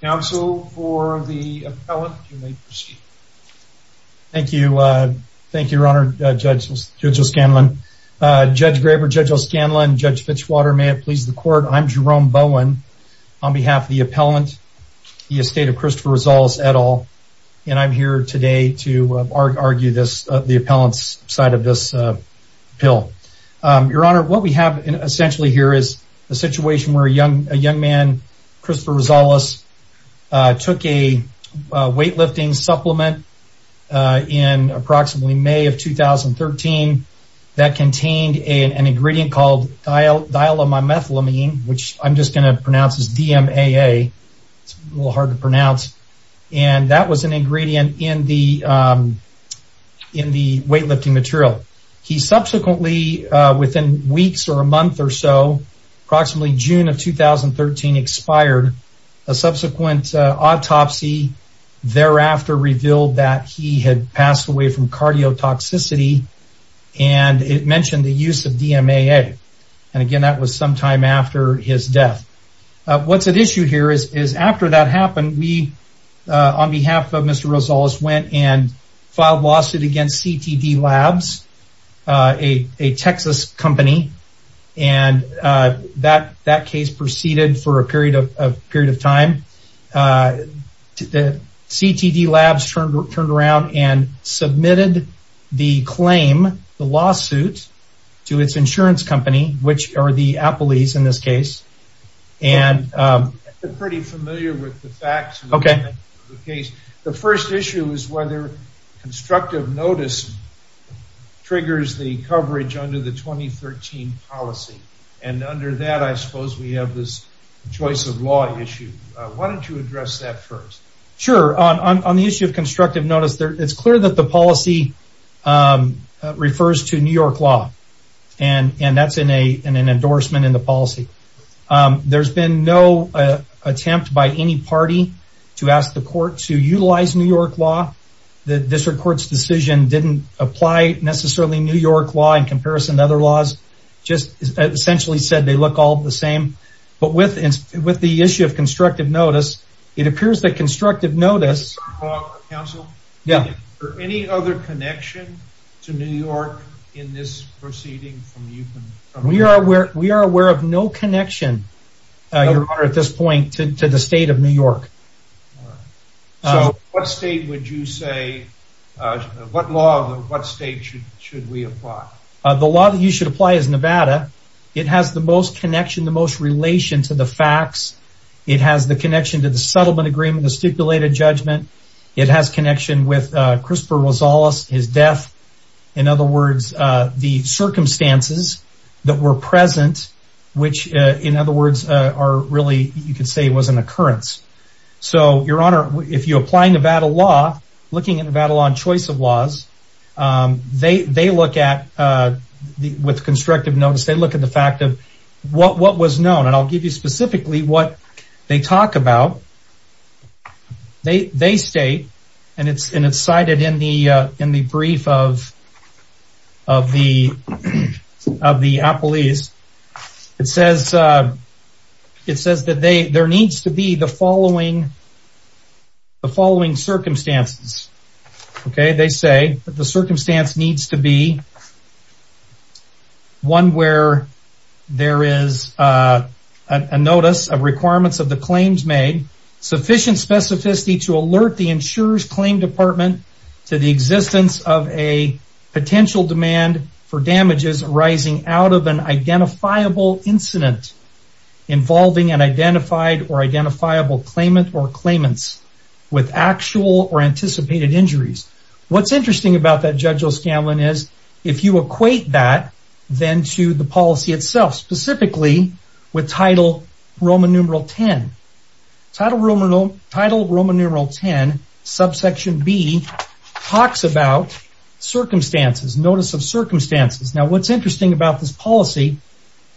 Council for the appellant. You may proceed. Thank you. Thank you, Your Honor. Judge O'Scanlan. Judge Graber, Judge O'Scanlan, Judge Fitchwater, may it please the court. I'm Jerome Bowen on behalf of the appellant, the estate of Christopher Rosales et al. And I'm here today to argue this, the appellant's side of this bill. Your Honor, what we have essentially here is a situation where a young man, Christopher Rosales, took a weightlifting supplement in approximately May of 2013 that contained an ingredient called thiolamethylamine, which I'm just going to pronounce as DMAA. It's a little hard to pronounce. And that was an ingredient in the weightlifting material. He subsequently, within weeks or a month or so, approximately June of 2013, expired. A subsequent autopsy thereafter revealed that he had passed away from cardiotoxicity. And it mentioned the use of DMAA. And again, that was sometime after his death. What's at issue here is after that happened, we, on behalf of Mr. Rosales, went and filed a lawsuit against CTD Labs, a Texas company. And that case proceeded for a period of time. CTD Labs turned around and submitted the claim, the lawsuit, to its insurance company, which are the Appleys in this case. I'm pretty familiar with the facts of the case. The first issue is whether constructive notice triggers the coverage under the 2013 policy. And under that, I suppose, we have this choice of law issue. Why don't you address that first? Sure. On the issue of constructive notice, it's clear that policy refers to New York law. And that's in an endorsement in the policy. There's been no attempt by any party to ask the court to utilize New York law. The district court's decision didn't apply necessarily New York law in comparison to other laws. It just essentially said they look all the same. But with the issue of constructive notice, it appears that constructive notice... Is there any other connection to New York in this proceeding? We are aware of no connection, Your Honor, at this point to the state of New York. So what state would you say, what law, what state should we apply? The law that you should apply is Nevada. It has the most connection, the most relation to the facts. It has the connection to the settlement agreement, stipulated judgment. It has connection with Crisper Rosales, his death. In other words, the circumstances that were present, which, in other words, are really, you could say, was an occurrence. So, Your Honor, if you apply Nevada law, looking at Nevada law and choice of laws, they look at, with constructive notice, they look at the fact of what was known. And I'll give specifically what they talk about. They state, and it's cited in the brief of the appellees. It says that there needs to be the following circumstances. They say that the circumstance needs to be one where there is a notice of requirements of the claims made, sufficient specificity to alert the insurer's claim department to the existence of a potential demand for damages arising out of an identifiable incident involving an identified or identifiable claimant or claimants with actual or anticipated injuries. What's interesting about that, Judge O'Scanlan, is if you equate that then to the policy itself, specifically with title Roman numeral 10. Title Roman numeral 10, subsection B, talks about circumstances, notice of circumstances. Now, what's interesting about this policy,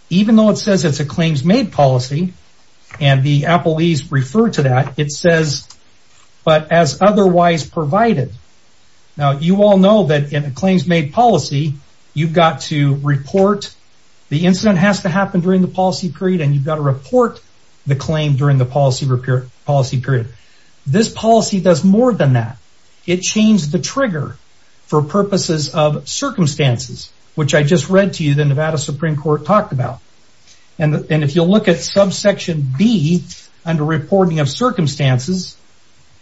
even though it says it's a claims made policy, and the appellees refer to that, it says, but as otherwise provided. Now, you all know that in a claims made policy, you've got to report, the incident has to happen during the policy period, and you've got to report the claim during the policy period. This policy does more than that. It changed the trigger for purposes of circumstances, which I just read to you, Nevada Supreme Court talked about. If you look at subsection B, under reporting of circumstances,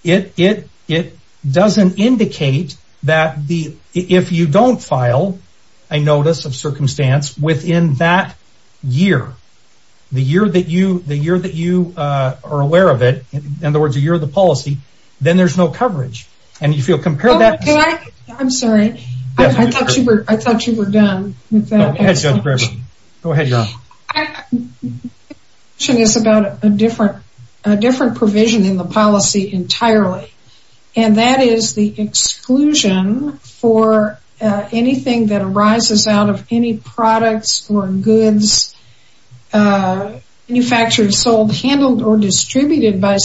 it doesn't indicate that if you don't file a notice of circumstance within that year, the year that you are aware of it, in other words, a year of the policy, then there's no coverage. And if you compare that... I'm sorry, I thought you were done. It's about a different provision in the policy entirely, and that is the exclusion for anything that arises out of any products or goods manufactured, sold, handled, or distributed by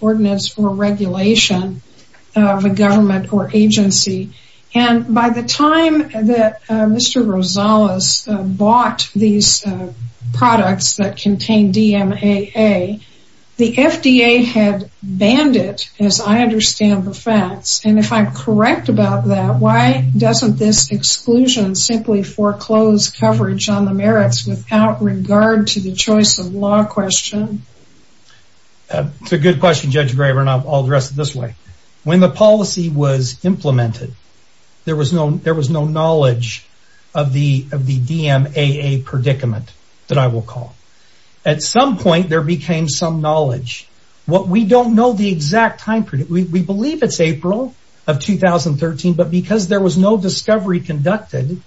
ordinance for regulation of a government or agency. And by the time that Mr. Rosales bought these products that contain DMAA, the FDA had banned it, as I understand the facts. And if I'm correct about that, why doesn't this exclusion simply foreclose coverage on the merits without regard to the choice of law question? That's a good question, Judge Graber, and I'll address it this way. When the policy was implemented, there was no knowledge of the DMAA predicament that I will call. At some point, there became some knowledge. What we don't know the exact time, we believe it's April of 2013, but because there was no discovery conducted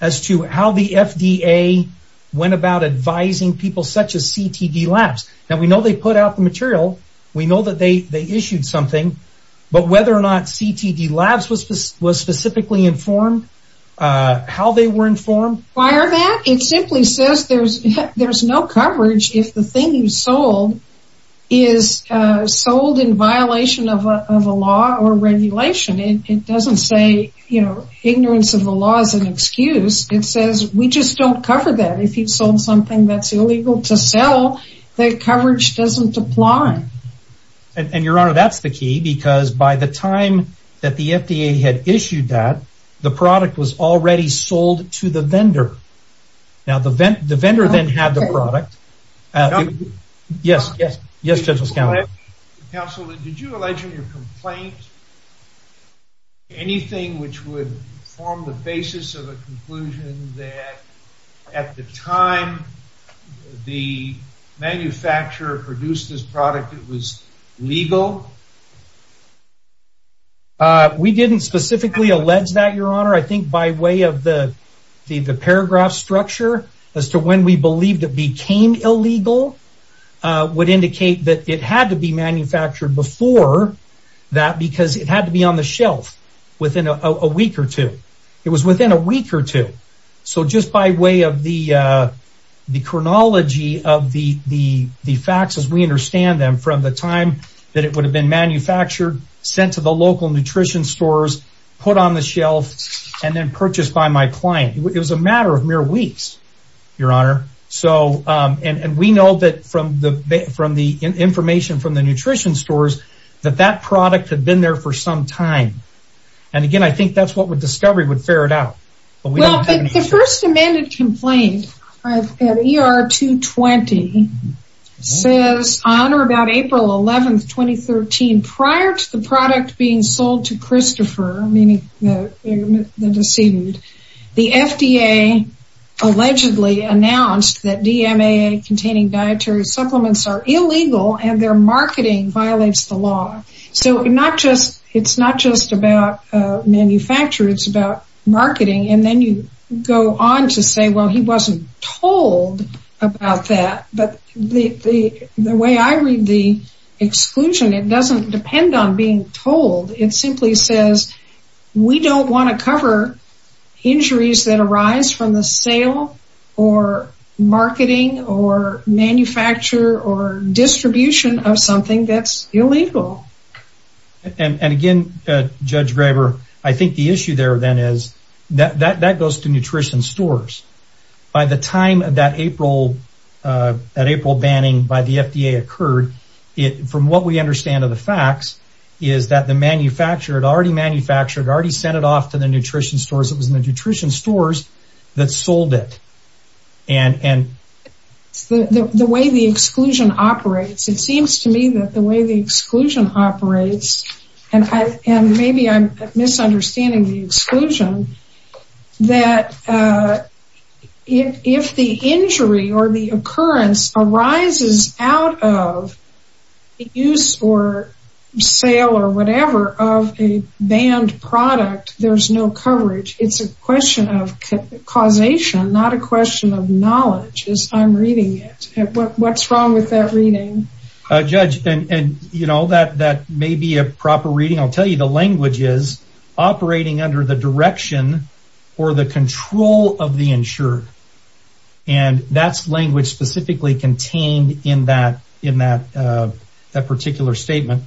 as to how the FDA went about advising people such as CTD Labs. Now, we know they put out the material, we know that they issued something, but whether or not CTD Labs was specifically informed, how they were informed... Why are that? It simply says there's no coverage if the thing you sold is sold in violation of a law or regulation. It doesn't say, you know, ignorance of the law is an excuse. It says, we just don't cover that. If you've sold something that's illegal to sell, their coverage doesn't apply. And your honor, that's the key, because by the time that the FDA had issued that, the product was already sold to the vendor. Now, the vendor then had the product. Yes, yes, yes, Judge Loscaldo. Counsel, did you allege in your complaint anything which would form the basis of a conclusion that at the time the manufacturer produced this product, it was legal? We didn't specifically allege that, your honor. I think by way of the the paragraph structure as to when we believed it became illegal would indicate that it had to be manufactured before that, because it had to be on the shelf within a week or two. It was within a week or two. So just by way of the chronology of the facts as we understand them, from the time that it would have been manufactured, sent to the local nutrition stores, put on the shelf, and then purchased by my client, it was a matter of mere weeks, your honor. And we know that from the information from the nutrition stores, that that product had been there for some time. And again, I think that's what Discovery would ferret out. The first amended complaint, ER 220, says on or about April 11, 2013, prior to the product being sold to Christopher, meaning the decedent, the FDA allegedly announced that DMA containing dietary supplements are illegal and their marketing violates the law. So it's not just about manufacture. It's about marketing. And then you go on to say, well, he wasn't told about that. But the way I read the exclusion, it doesn't depend on being told. It simply says, we don't want to cover injuries that arise from the sale or marketing or manufacture or distribution of something that's illegal. And again, Judge Graber, I think the issue there then is that goes to nutrition stores. By the time that April banning by the FDA occurred, from what we understand of the facts, is that the manufacturer had already manufactured, already sent it off to the nutrition stores. It seems to me that the way the exclusion operates, and maybe I'm misunderstanding the exclusion, that if the injury or the occurrence arises out of use or sale or whatever of a banned product, there's no coverage. It's a question of causation, not a question of knowledge. I'm reading it. What's wrong with that reading? Judge, that may be a proper reading. I'll tell you the language is operating under the direction or the control of the insured. And that's language specifically contained in that particular statement.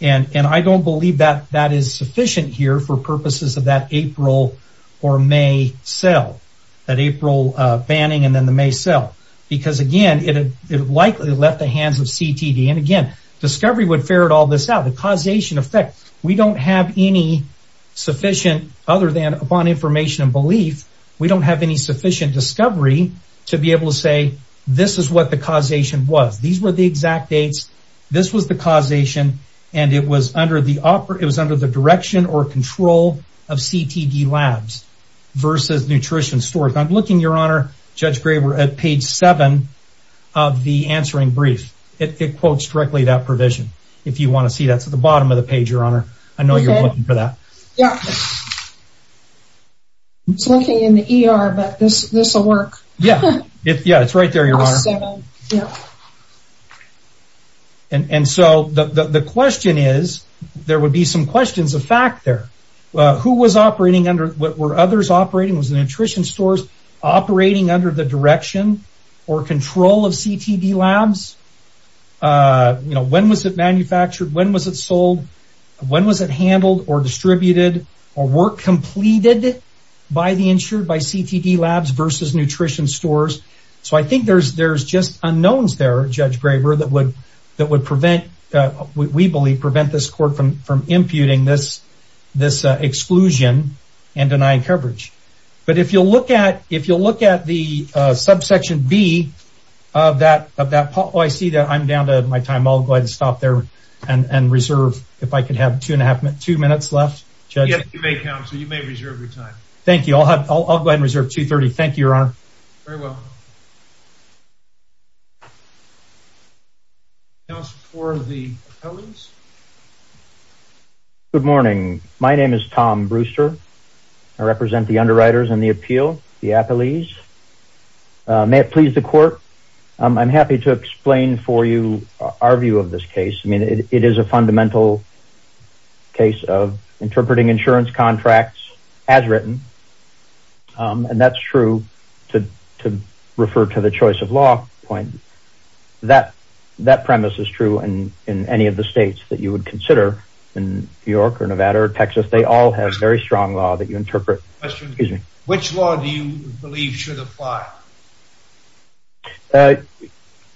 And I don't believe that that is sufficient here for purposes of that April or May sale, that April banning and then the May sale. Because again, it likely left the hands of CTD. And again, discovery would ferret all this out. The causation effect, we don't have any sufficient, other than upon information and belief, we don't have any sufficient discovery to be able to say, this is what the causation was. These were the exact dates. This was the labs versus nutrition stores. I'm looking, Your Honor, Judge Graber at page seven of the answering brief. It quotes directly that provision. If you want to see that at the bottom of the page, Your Honor, I know you're looking for that. Yeah. It's looking in the ER, but this will work. Yeah. Yeah. It's right there, Your Honor. And so the question is, there would be some questions of fact there. Who was operating under, were others operating, was the nutrition stores operating under the direction or control of CTD labs? When was it manufactured? When was it sold? When was it handled or distributed or work completed by the insured, by CTD labs versus nutrition stores? So I think there's just unknowns there, Judge Graber, that would prevent, we this exclusion and denying coverage. But if you'll look at, if you'll look at the subsection B of that, of that, oh, I see that I'm down to my time. I'll go ahead and stop there and reserve if I could have two and a half, two minutes left, Judge. Yeah, you may count, so you may reserve your time. Thank you. I'll have, I'll go ahead and reserve 2.30. Thank you, Your Honor. Very well. Now for the appellees. Good morning. My name is Tom Brewster. I represent the underwriters and the appeal, the appellees. May it please the court. I'm happy to explain for you our view of this case. I mean, it is a fundamental case of interpreting insurance contracts as written. And that's true to refer to the choice of law point. That premise is true in any of the states that you would consider in New York or Nevada or Texas. They all have very strong law that you interpret. Which law do you believe should apply?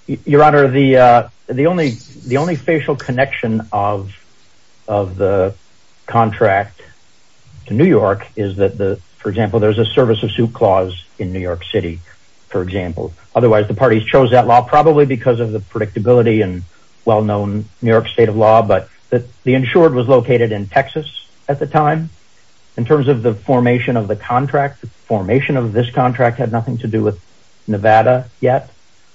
Your Honor, the only facial connection of the contract to New York is that, for example, there's a service of suit clause in New York City, for example. Otherwise, the parties chose that law probably because of the predictability and well-known New York state of law. But the insured was located in Texas at the time. In terms of the formation of the contract, the formation of this contract had nothing to do with Nevada yet.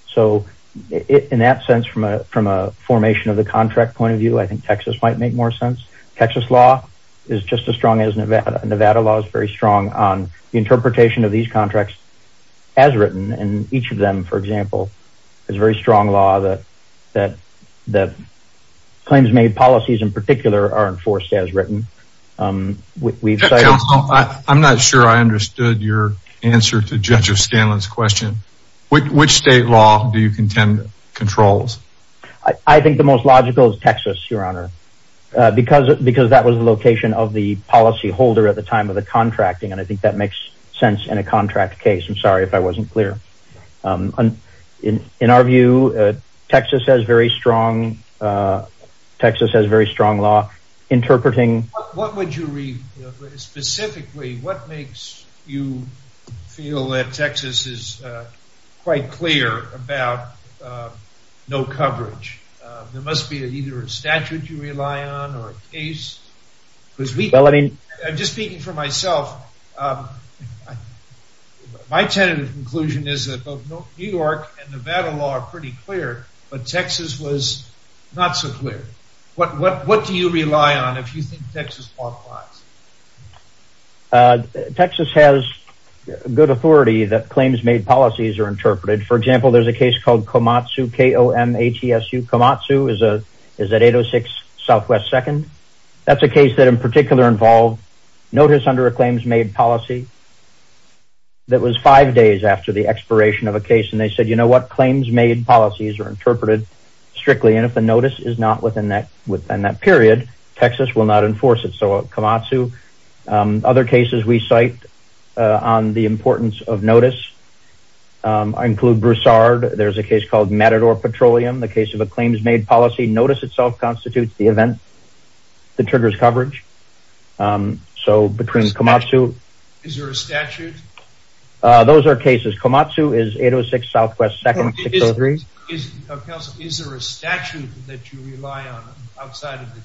So in that sense, from a formation of the contract point of view, I think Texas might make more sense. Texas law is just as strong as Nevada. Nevada law is very strong on the interpretation of these contracts as written. And each of them, for example, is very strong law that claims made policies in particular are enforced as written. I'm not sure I understood your answer to Judge Controls. I think the most logical is Texas, Your Honor, because that was the location of the policyholder at the time of the contracting. And I think that makes sense in a contract case. I'm sorry if I wasn't clear. In our view, Texas has very strong law interpreting... What would you call it? No coverage. There must be either a statute you rely on or a case. I'm just speaking for myself. My tentative conclusion is that both New York and Nevada law are pretty clear, but Texas was not so clear. What do you rely on if you think Texas fought flies? Texas has good authority that claims made policies are interpreted. For example, there's a case called Komatsu, K-O-M-A-T-S-U. Komatsu is at 806 Southwest 2nd. That's a case that in particular involved notice under a claims made policy that was five days after the expiration of a case. And they said, you know what? Claims made policies are interpreted strictly. And if the notice is not within that period, Texas will not enforce it. So Komatsu. Other cases we cite on the importance of notice include Broussard. There's a case called Matador Petroleum. The case of a claims made policy notice itself constitutes the event that triggers coverage. So between Komatsu... Is there a statute? Those are cases. Komatsu is 806 Southwest 2nd. Is there a statute that you rely on outside of the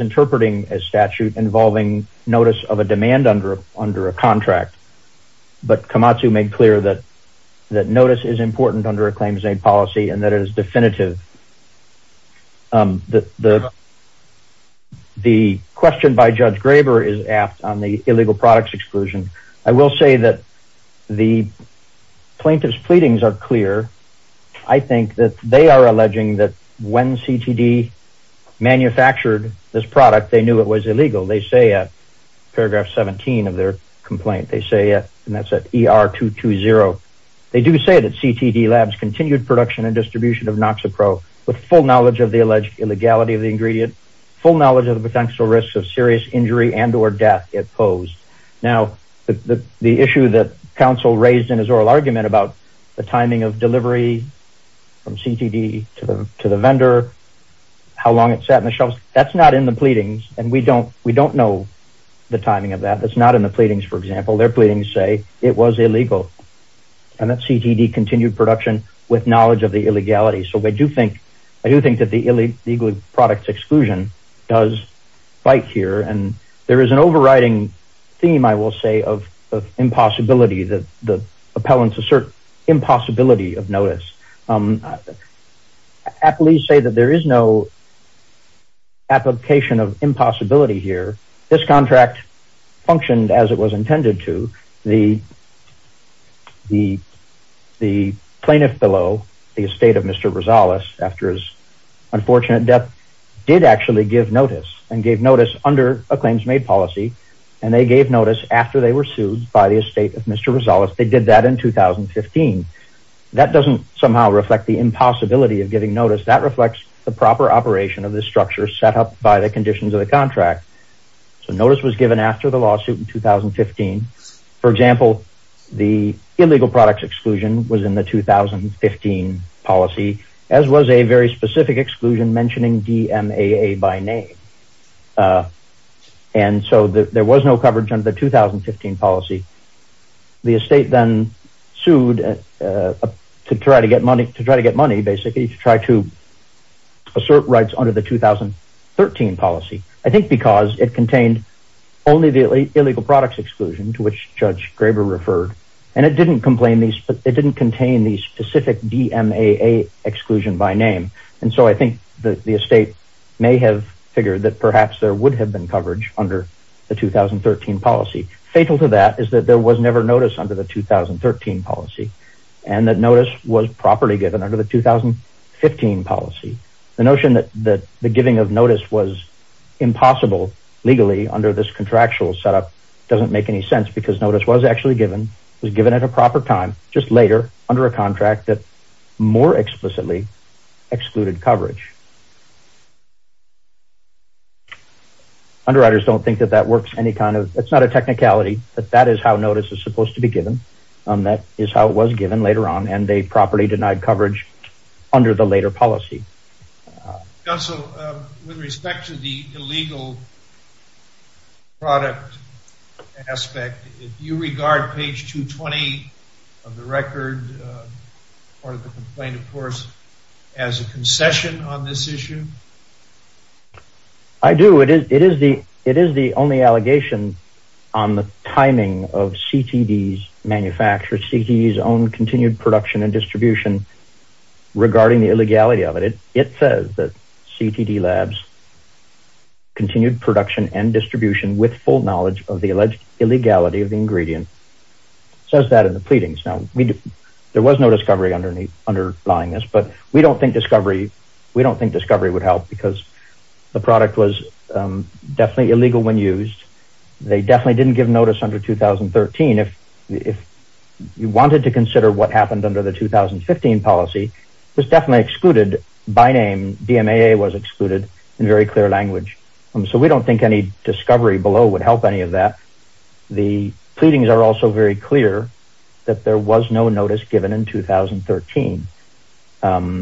interpreting a statute involving notice of a demand under a contract? But Komatsu made clear that notice is important under a claims made policy and that it is definitive. The question by Judge Graber is asked on the illegal products exclusion. I will say that the plaintiff's pleadings are clear. I think that they are alleging that when CTD manufactured this product, they knew it was illegal. They say in paragraph 17 of their complaint, they say, and that's at ER220. They do say that CTD labs continued production and distribution of Noxipro with full knowledge of the illegality of the ingredient, full knowledge of the potential risks of serious injury and or death it posed. Now, the issue that counsel raised about the timing of delivery from CTD to the vendor, how long it sat in the shelves, that's not in the pleadings. And we don't know the timing of that. That's not in the pleadings, for example. Their pleadings say it was illegal. And that CTD continued production with knowledge of the illegality. So I do think that the illegal products exclusion does fight here. There is an overriding theme, I will say, of impossibility that the appellants assert impossibility of notice. Appellees say that there is no application of impossibility here. This contract functioned as it was intended to. The plaintiff below, the estate of Mr. Rosales, after his unfortunate death, did actually give notice and gave notice under a claims-made policy, and they gave notice after they were sued by the estate of Mr. Rosales. They did that in 2015. That doesn't somehow reflect the impossibility of giving notice. That reflects the proper operation of the structure set up by the conditions of the contract. So notice was given after the lawsuit in 2015. For example, the illegal products exclusion was in the 2015 policy, as was a very specific exclusion mentioning DMAA by name. And so there was no coverage under the 2015 policy. The estate then sued to try to get money, basically, to try to assert rights under the 2013 policy, I think because it contained only the illegal products exclusion to which Judge Graber referred. And it didn't contain the specific DMAA exclusion by name. And so I think the estate may have figured that perhaps there would have been coverage under the 2013 policy. Fatal to that is that there was never notice under the 2013 policy, and that notice was properly given under the 2015 policy. The notion that the giving of notice was impossible legally under this contractual setup doesn't make any contract that more explicitly excluded coverage. Underwriters don't think that works any kind of, it's not a technicality, but that is how notice is supposed to be given. That is how it was given later on, and they properly denied coverage under the later policy. Counsel, with respect to the part of the complaint, of course, as a concession on this issue? I do. It is the only allegation on the timing of CTD's manufacture, CTD's own continued production and distribution regarding the illegality of it. It says that CTD labs continued production and distribution with full knowledge of the alleged illegality of the underlying this, but we don't think discovery would help because the product was definitely illegal when used. They definitely didn't give notice under 2013. If you wanted to consider what happened under the 2015 policy, it was definitely excluded by name. DMAA was excluded in very clear language. So we don't think any discovery below would help any of that. The pleadings are also very clear that there was no notice given in 2013.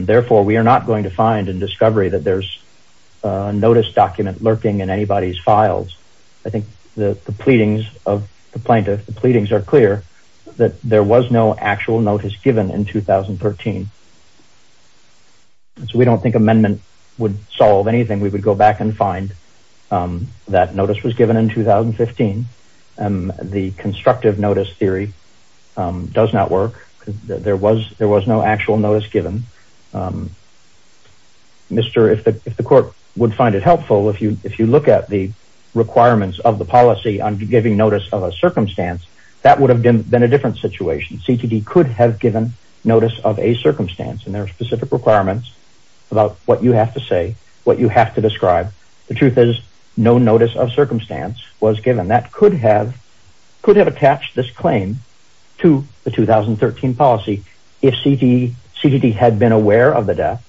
Therefore, we are not going to find in discovery that there's a notice document lurking in anybody's files. I think the pleadings of the plaintiff, the pleadings are clear that there was no actual notice given in 2013. So we don't think amendment would solve anything. We would go back and find that notice was given in 2015. The constructive notice theory does not work. There was no actual notice given. If the court would find it helpful, if you look at the requirements of the policy on giving notice of a circumstance, that would have been a different situation. CTD could have given notice of a circumstance and their specific requirements about what you have to say, what you have to describe. The truth is, no notice of circumstance was given. That could have attached this claim to the 2013 policy if CTD had been aware of the death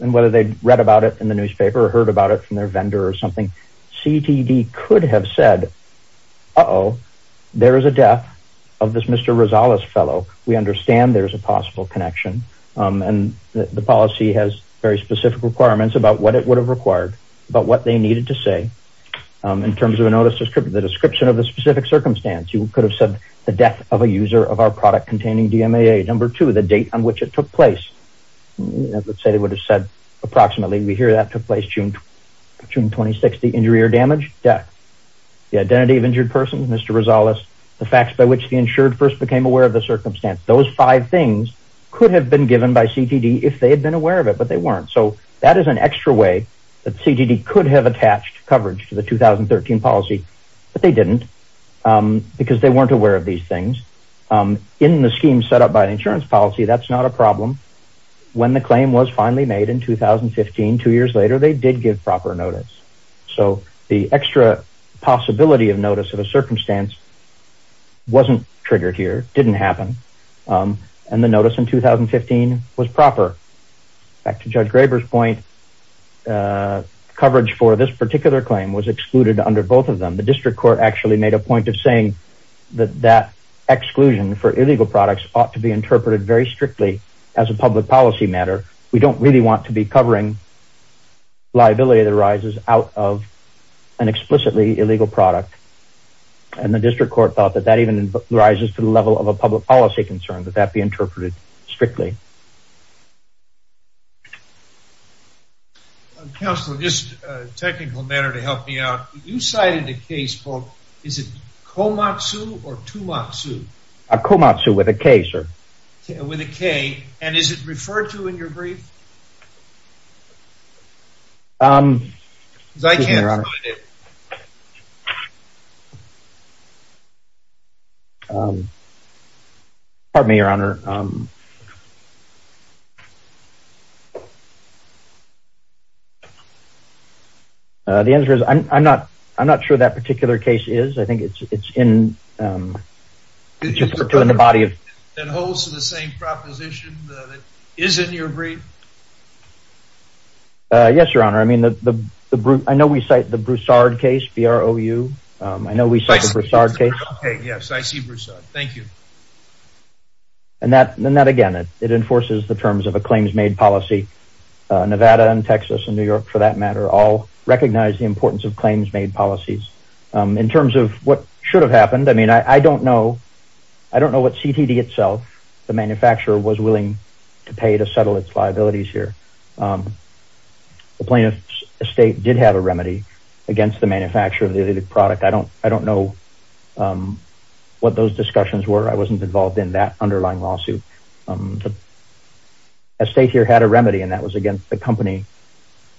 and whether they'd read about it in the newspaper or heard about it from their vendor or something. CTD could have said, uh-oh, there is a death of this Mr. fellow. We understand there's a possible connection and the policy has very specific requirements about what it would have required, about what they needed to say in terms of a notice description, the description of a specific circumstance. You could have said the death of a user of our product containing DMAA. Number two, the date on which it took place, let's say they would have said approximately, we hear that took place June 26th, the injury or damage, death. The identity of injured person, Mr. Rosales, the facts by which the insured first became aware of the circumstance. Those five things could have been given by CTD if they had been aware of it, but they weren't. So that is an extra way that CTD could have attached coverage to the 2013 policy, but they didn't because they weren't aware of these things. In the scheme set up by an insurance policy, that's not a problem. When the claim was finally made in 2015, two years later, they did give proper notice. So the extra possibility of notice of a circumstance wasn't triggered here, didn't happen. And the notice in 2015 was proper. Back to Judge Graber's point, coverage for this particular claim was excluded under both of them. The district court actually made a point of saying that that exclusion for illegal products ought to be interpreted very strictly as a public policy matter. We don't really want to be covering liability that arises out of an explicitly illegal product. And the district court thought that that rises to the level of a public policy concern, that that be interpreted strictly. Counselor, just a technical matter to help me out. You cited a case called, is it Komatsu or Tumatsu? Komatsu with a K, sir. With a K. And is it referred to in your brief? I can't find it. Pardon me, your honor. The answer is, I'm not sure that particular case is. I think it's in the body of... Is it in your brief? Yes, your honor. I mean, I know we cite the Broussard case, B-R-O-U. I know we cite the Broussard case. Yes, I see Broussard. Thank you. And that again, it enforces the terms of a claims-made policy. Nevada and Texas and New York, for that matter, all recognize the importance of claims-made policies. In terms of what should have happened, I mean, I don't know. I don't know what CTD itself, the manufacturer, was willing to pay to settle its liabilities here. The plaintiff's estate did have a remedy against the manufacturer of the illegal product. I don't know what those discussions were. I wasn't involved in that underlying lawsuit. The estate here had a remedy, and that was against the company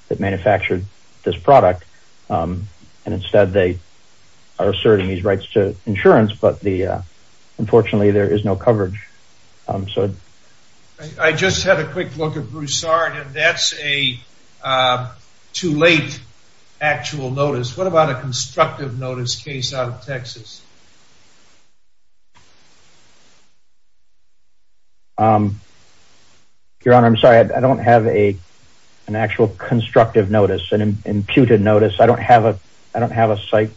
that manufactured this product. And instead, they are asserting these rights to insurance. But unfortunately, there is no coverage so. I just had a quick look at Broussard, and that's a too late actual notice. What about a constructive notice case out of Texas? Your honor, I'm sorry. I don't have an actual constructive notice, an imputed notice. I don't have a site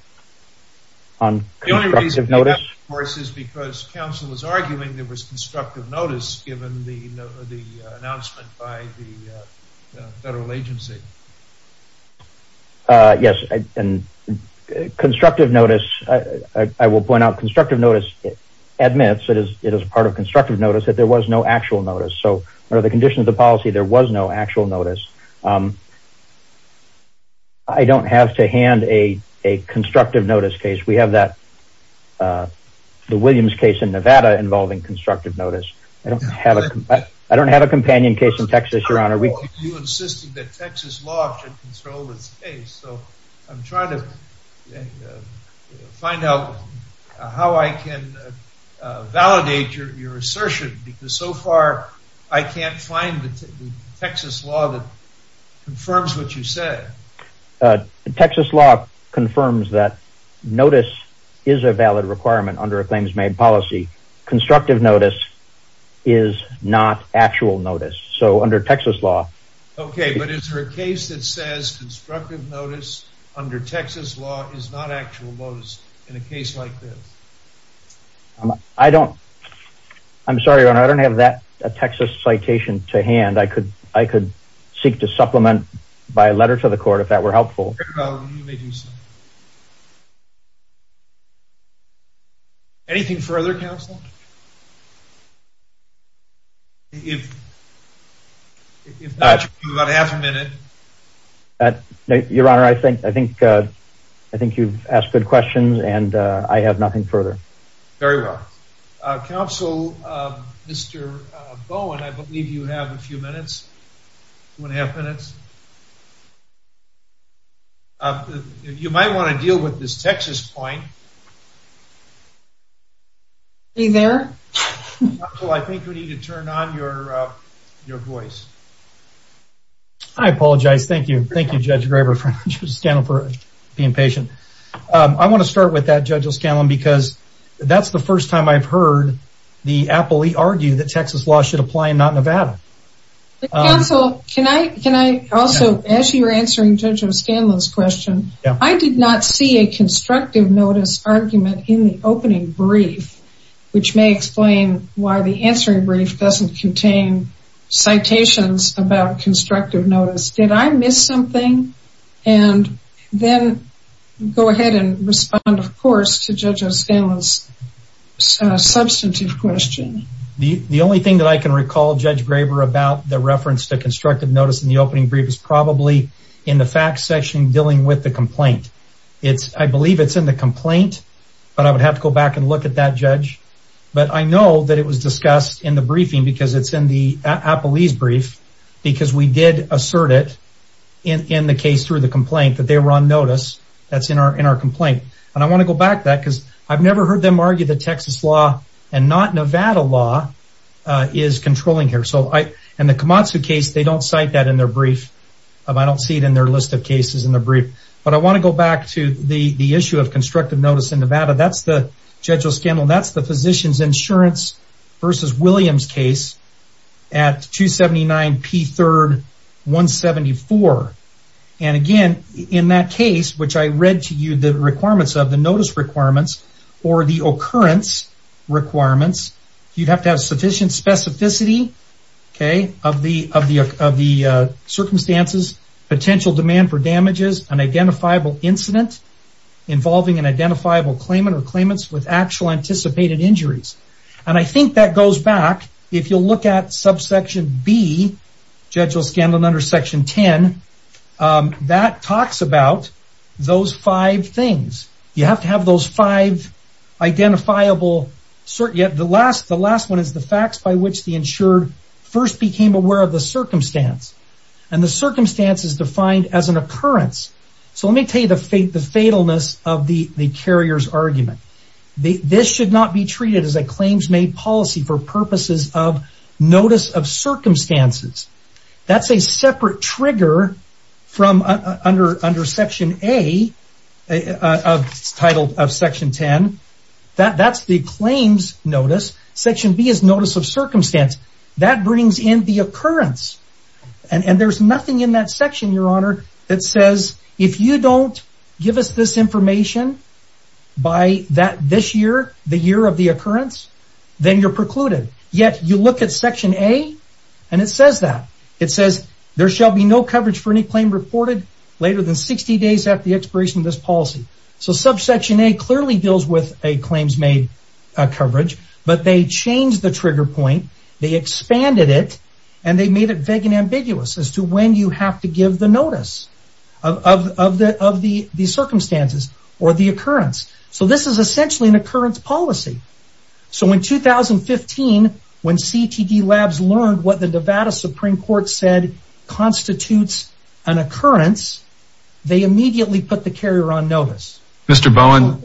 on constructive notice. Of course, it's because counsel was arguing there was constructive notice given the announcement by the federal agency. Yes, and constructive notice, I will point out, constructive notice admits it is part of constructive notice that there was no actual notice. So under the conditions of the policy, there was no actual notice. I don't have to hand a constructive notice case. We have that the Williams case in Nevada involving constructive notice. I don't have a companion case in Texas, your honor. You insisted that Texas law should control this case. So I'm trying to find out how I can validate your assertion because so far, I can't find the Texas law that confirms what you said. Texas law confirms that notice is a valid requirement under a claims made policy. Constructive notice is not actual notice. So under Texas law. Okay, but is there a case that says constructive notice under Texas law is not citation to hand? I could seek to supplement by a letter to the court if that were helpful. Anything further, counsel? Your honor, I think you've asked good questions and I have nothing further. Very well. Counsel, Mr. Bowen, I believe you have a few minutes, two and a half minutes. You might want to deal with this Texas point. Are you there? I think we need to turn on your voice. I apologize. Thank you. Thank you, Judge Graber for being patient. I want to start with that, because that's the first time I've heard the appellee argue that Texas law should apply and not Nevada. Counsel, can I also, as you're answering Judge O'Scanlon's question, I did not see a constructive notice argument in the opening brief, which may explain why the answering brief doesn't contain citations about constructive notice. Did I miss something? And then go ahead and respond, of course, to Judge O'Scanlon's substantive question. The only thing that I can recall, Judge Graber, about the reference to constructive notice in the opening brief is probably in the facts section dealing with the complaint. I believe it's in the complaint, but I would have to go back and look at that, Judge. But I know that it was discussed in the briefing because it's in the appellee's brief, because we did assert it in the case through the I want to go back to that, because I've never heard them argue that Texas law and not Nevada law is controlling here. In the Kamatsu case, they don't cite that in their brief. I don't see it in their list of cases in the brief. But I want to go back to the issue of constructive notice in Nevada. That's the, Judge O'Scanlon, that's the Physician's Insurance v. Williams case at 279 P. 3rd 174. And again, in that case, which I read to you the requirements of the notice requirements, or the occurrence requirements, you'd have to have sufficient specificity of the circumstances, potential demand for damages, an identifiable incident involving an identifiable claimant or claimants with actual anticipated injuries. And I think that goes back, if you'll look at subsection B, Judge O'Scanlon, under section 10, that talks about those five things. You have to have those five identifiable, yet the last one is the facts by which the insured first became aware of the circumstance. And the circumstance is defined as an occurrence. So let me tell you the fatalness of the carrier's argument. This should not be treated as a claims made policy for purposes of notice of circumstances. That's a separate trigger from under section A, titled of section 10. That's the claims notice. Section B is notice of circumstance. That brings in the occurrence. And there's nothing in that this year, the year of the occurrence, then you're precluded. Yet you look at section A, and it says that. It says, there shall be no coverage for any claim reported later than 60 days after the expiration of this policy. So subsection A clearly deals with a claims made coverage, but they changed the trigger point. They expanded it, and they made it vague and ambiguous as to when you have to give the notice of the circumstances or the occurrence. So this is essentially an occurrence policy. So in 2015, when CTD labs learned what the Nevada Supreme Court said constitutes an occurrence, they immediately put the carrier on notice. Mr. Bowen,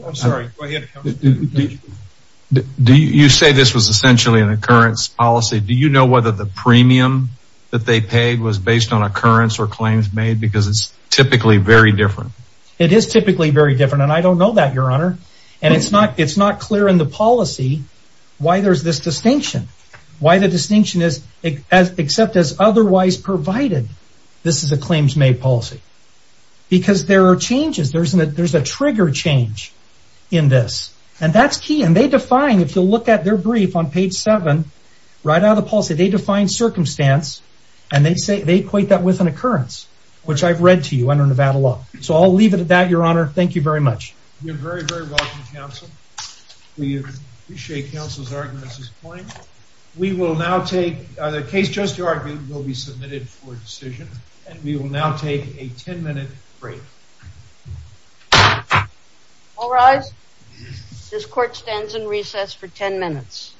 do you say this was essentially an occurrence policy? Do you know whether the premium that they paid was based on occurrence or claims made? Because it's typically very different. It is typically very different, and I don't know that, your honor. And it's not clear in the policy why there's this distinction. Why the distinction is, except as otherwise provided, this is a claims made policy. Because there are changes. There's a trigger change in this. And that's key. And they define, if you look at their brief on page 7, right out of the policy, they define circumstance, and they equate that with an occurrence, which I've read to you under the title of an occurrence. And I'll leave it at that, your honor. Thank you very much. You're very, very welcome, counsel. We appreciate counsel's arguments this morning. We will now take, the case just argued will be submitted for decision, and we will now take a 10-minute break. All rise. This court stands in recess for 10 minutes.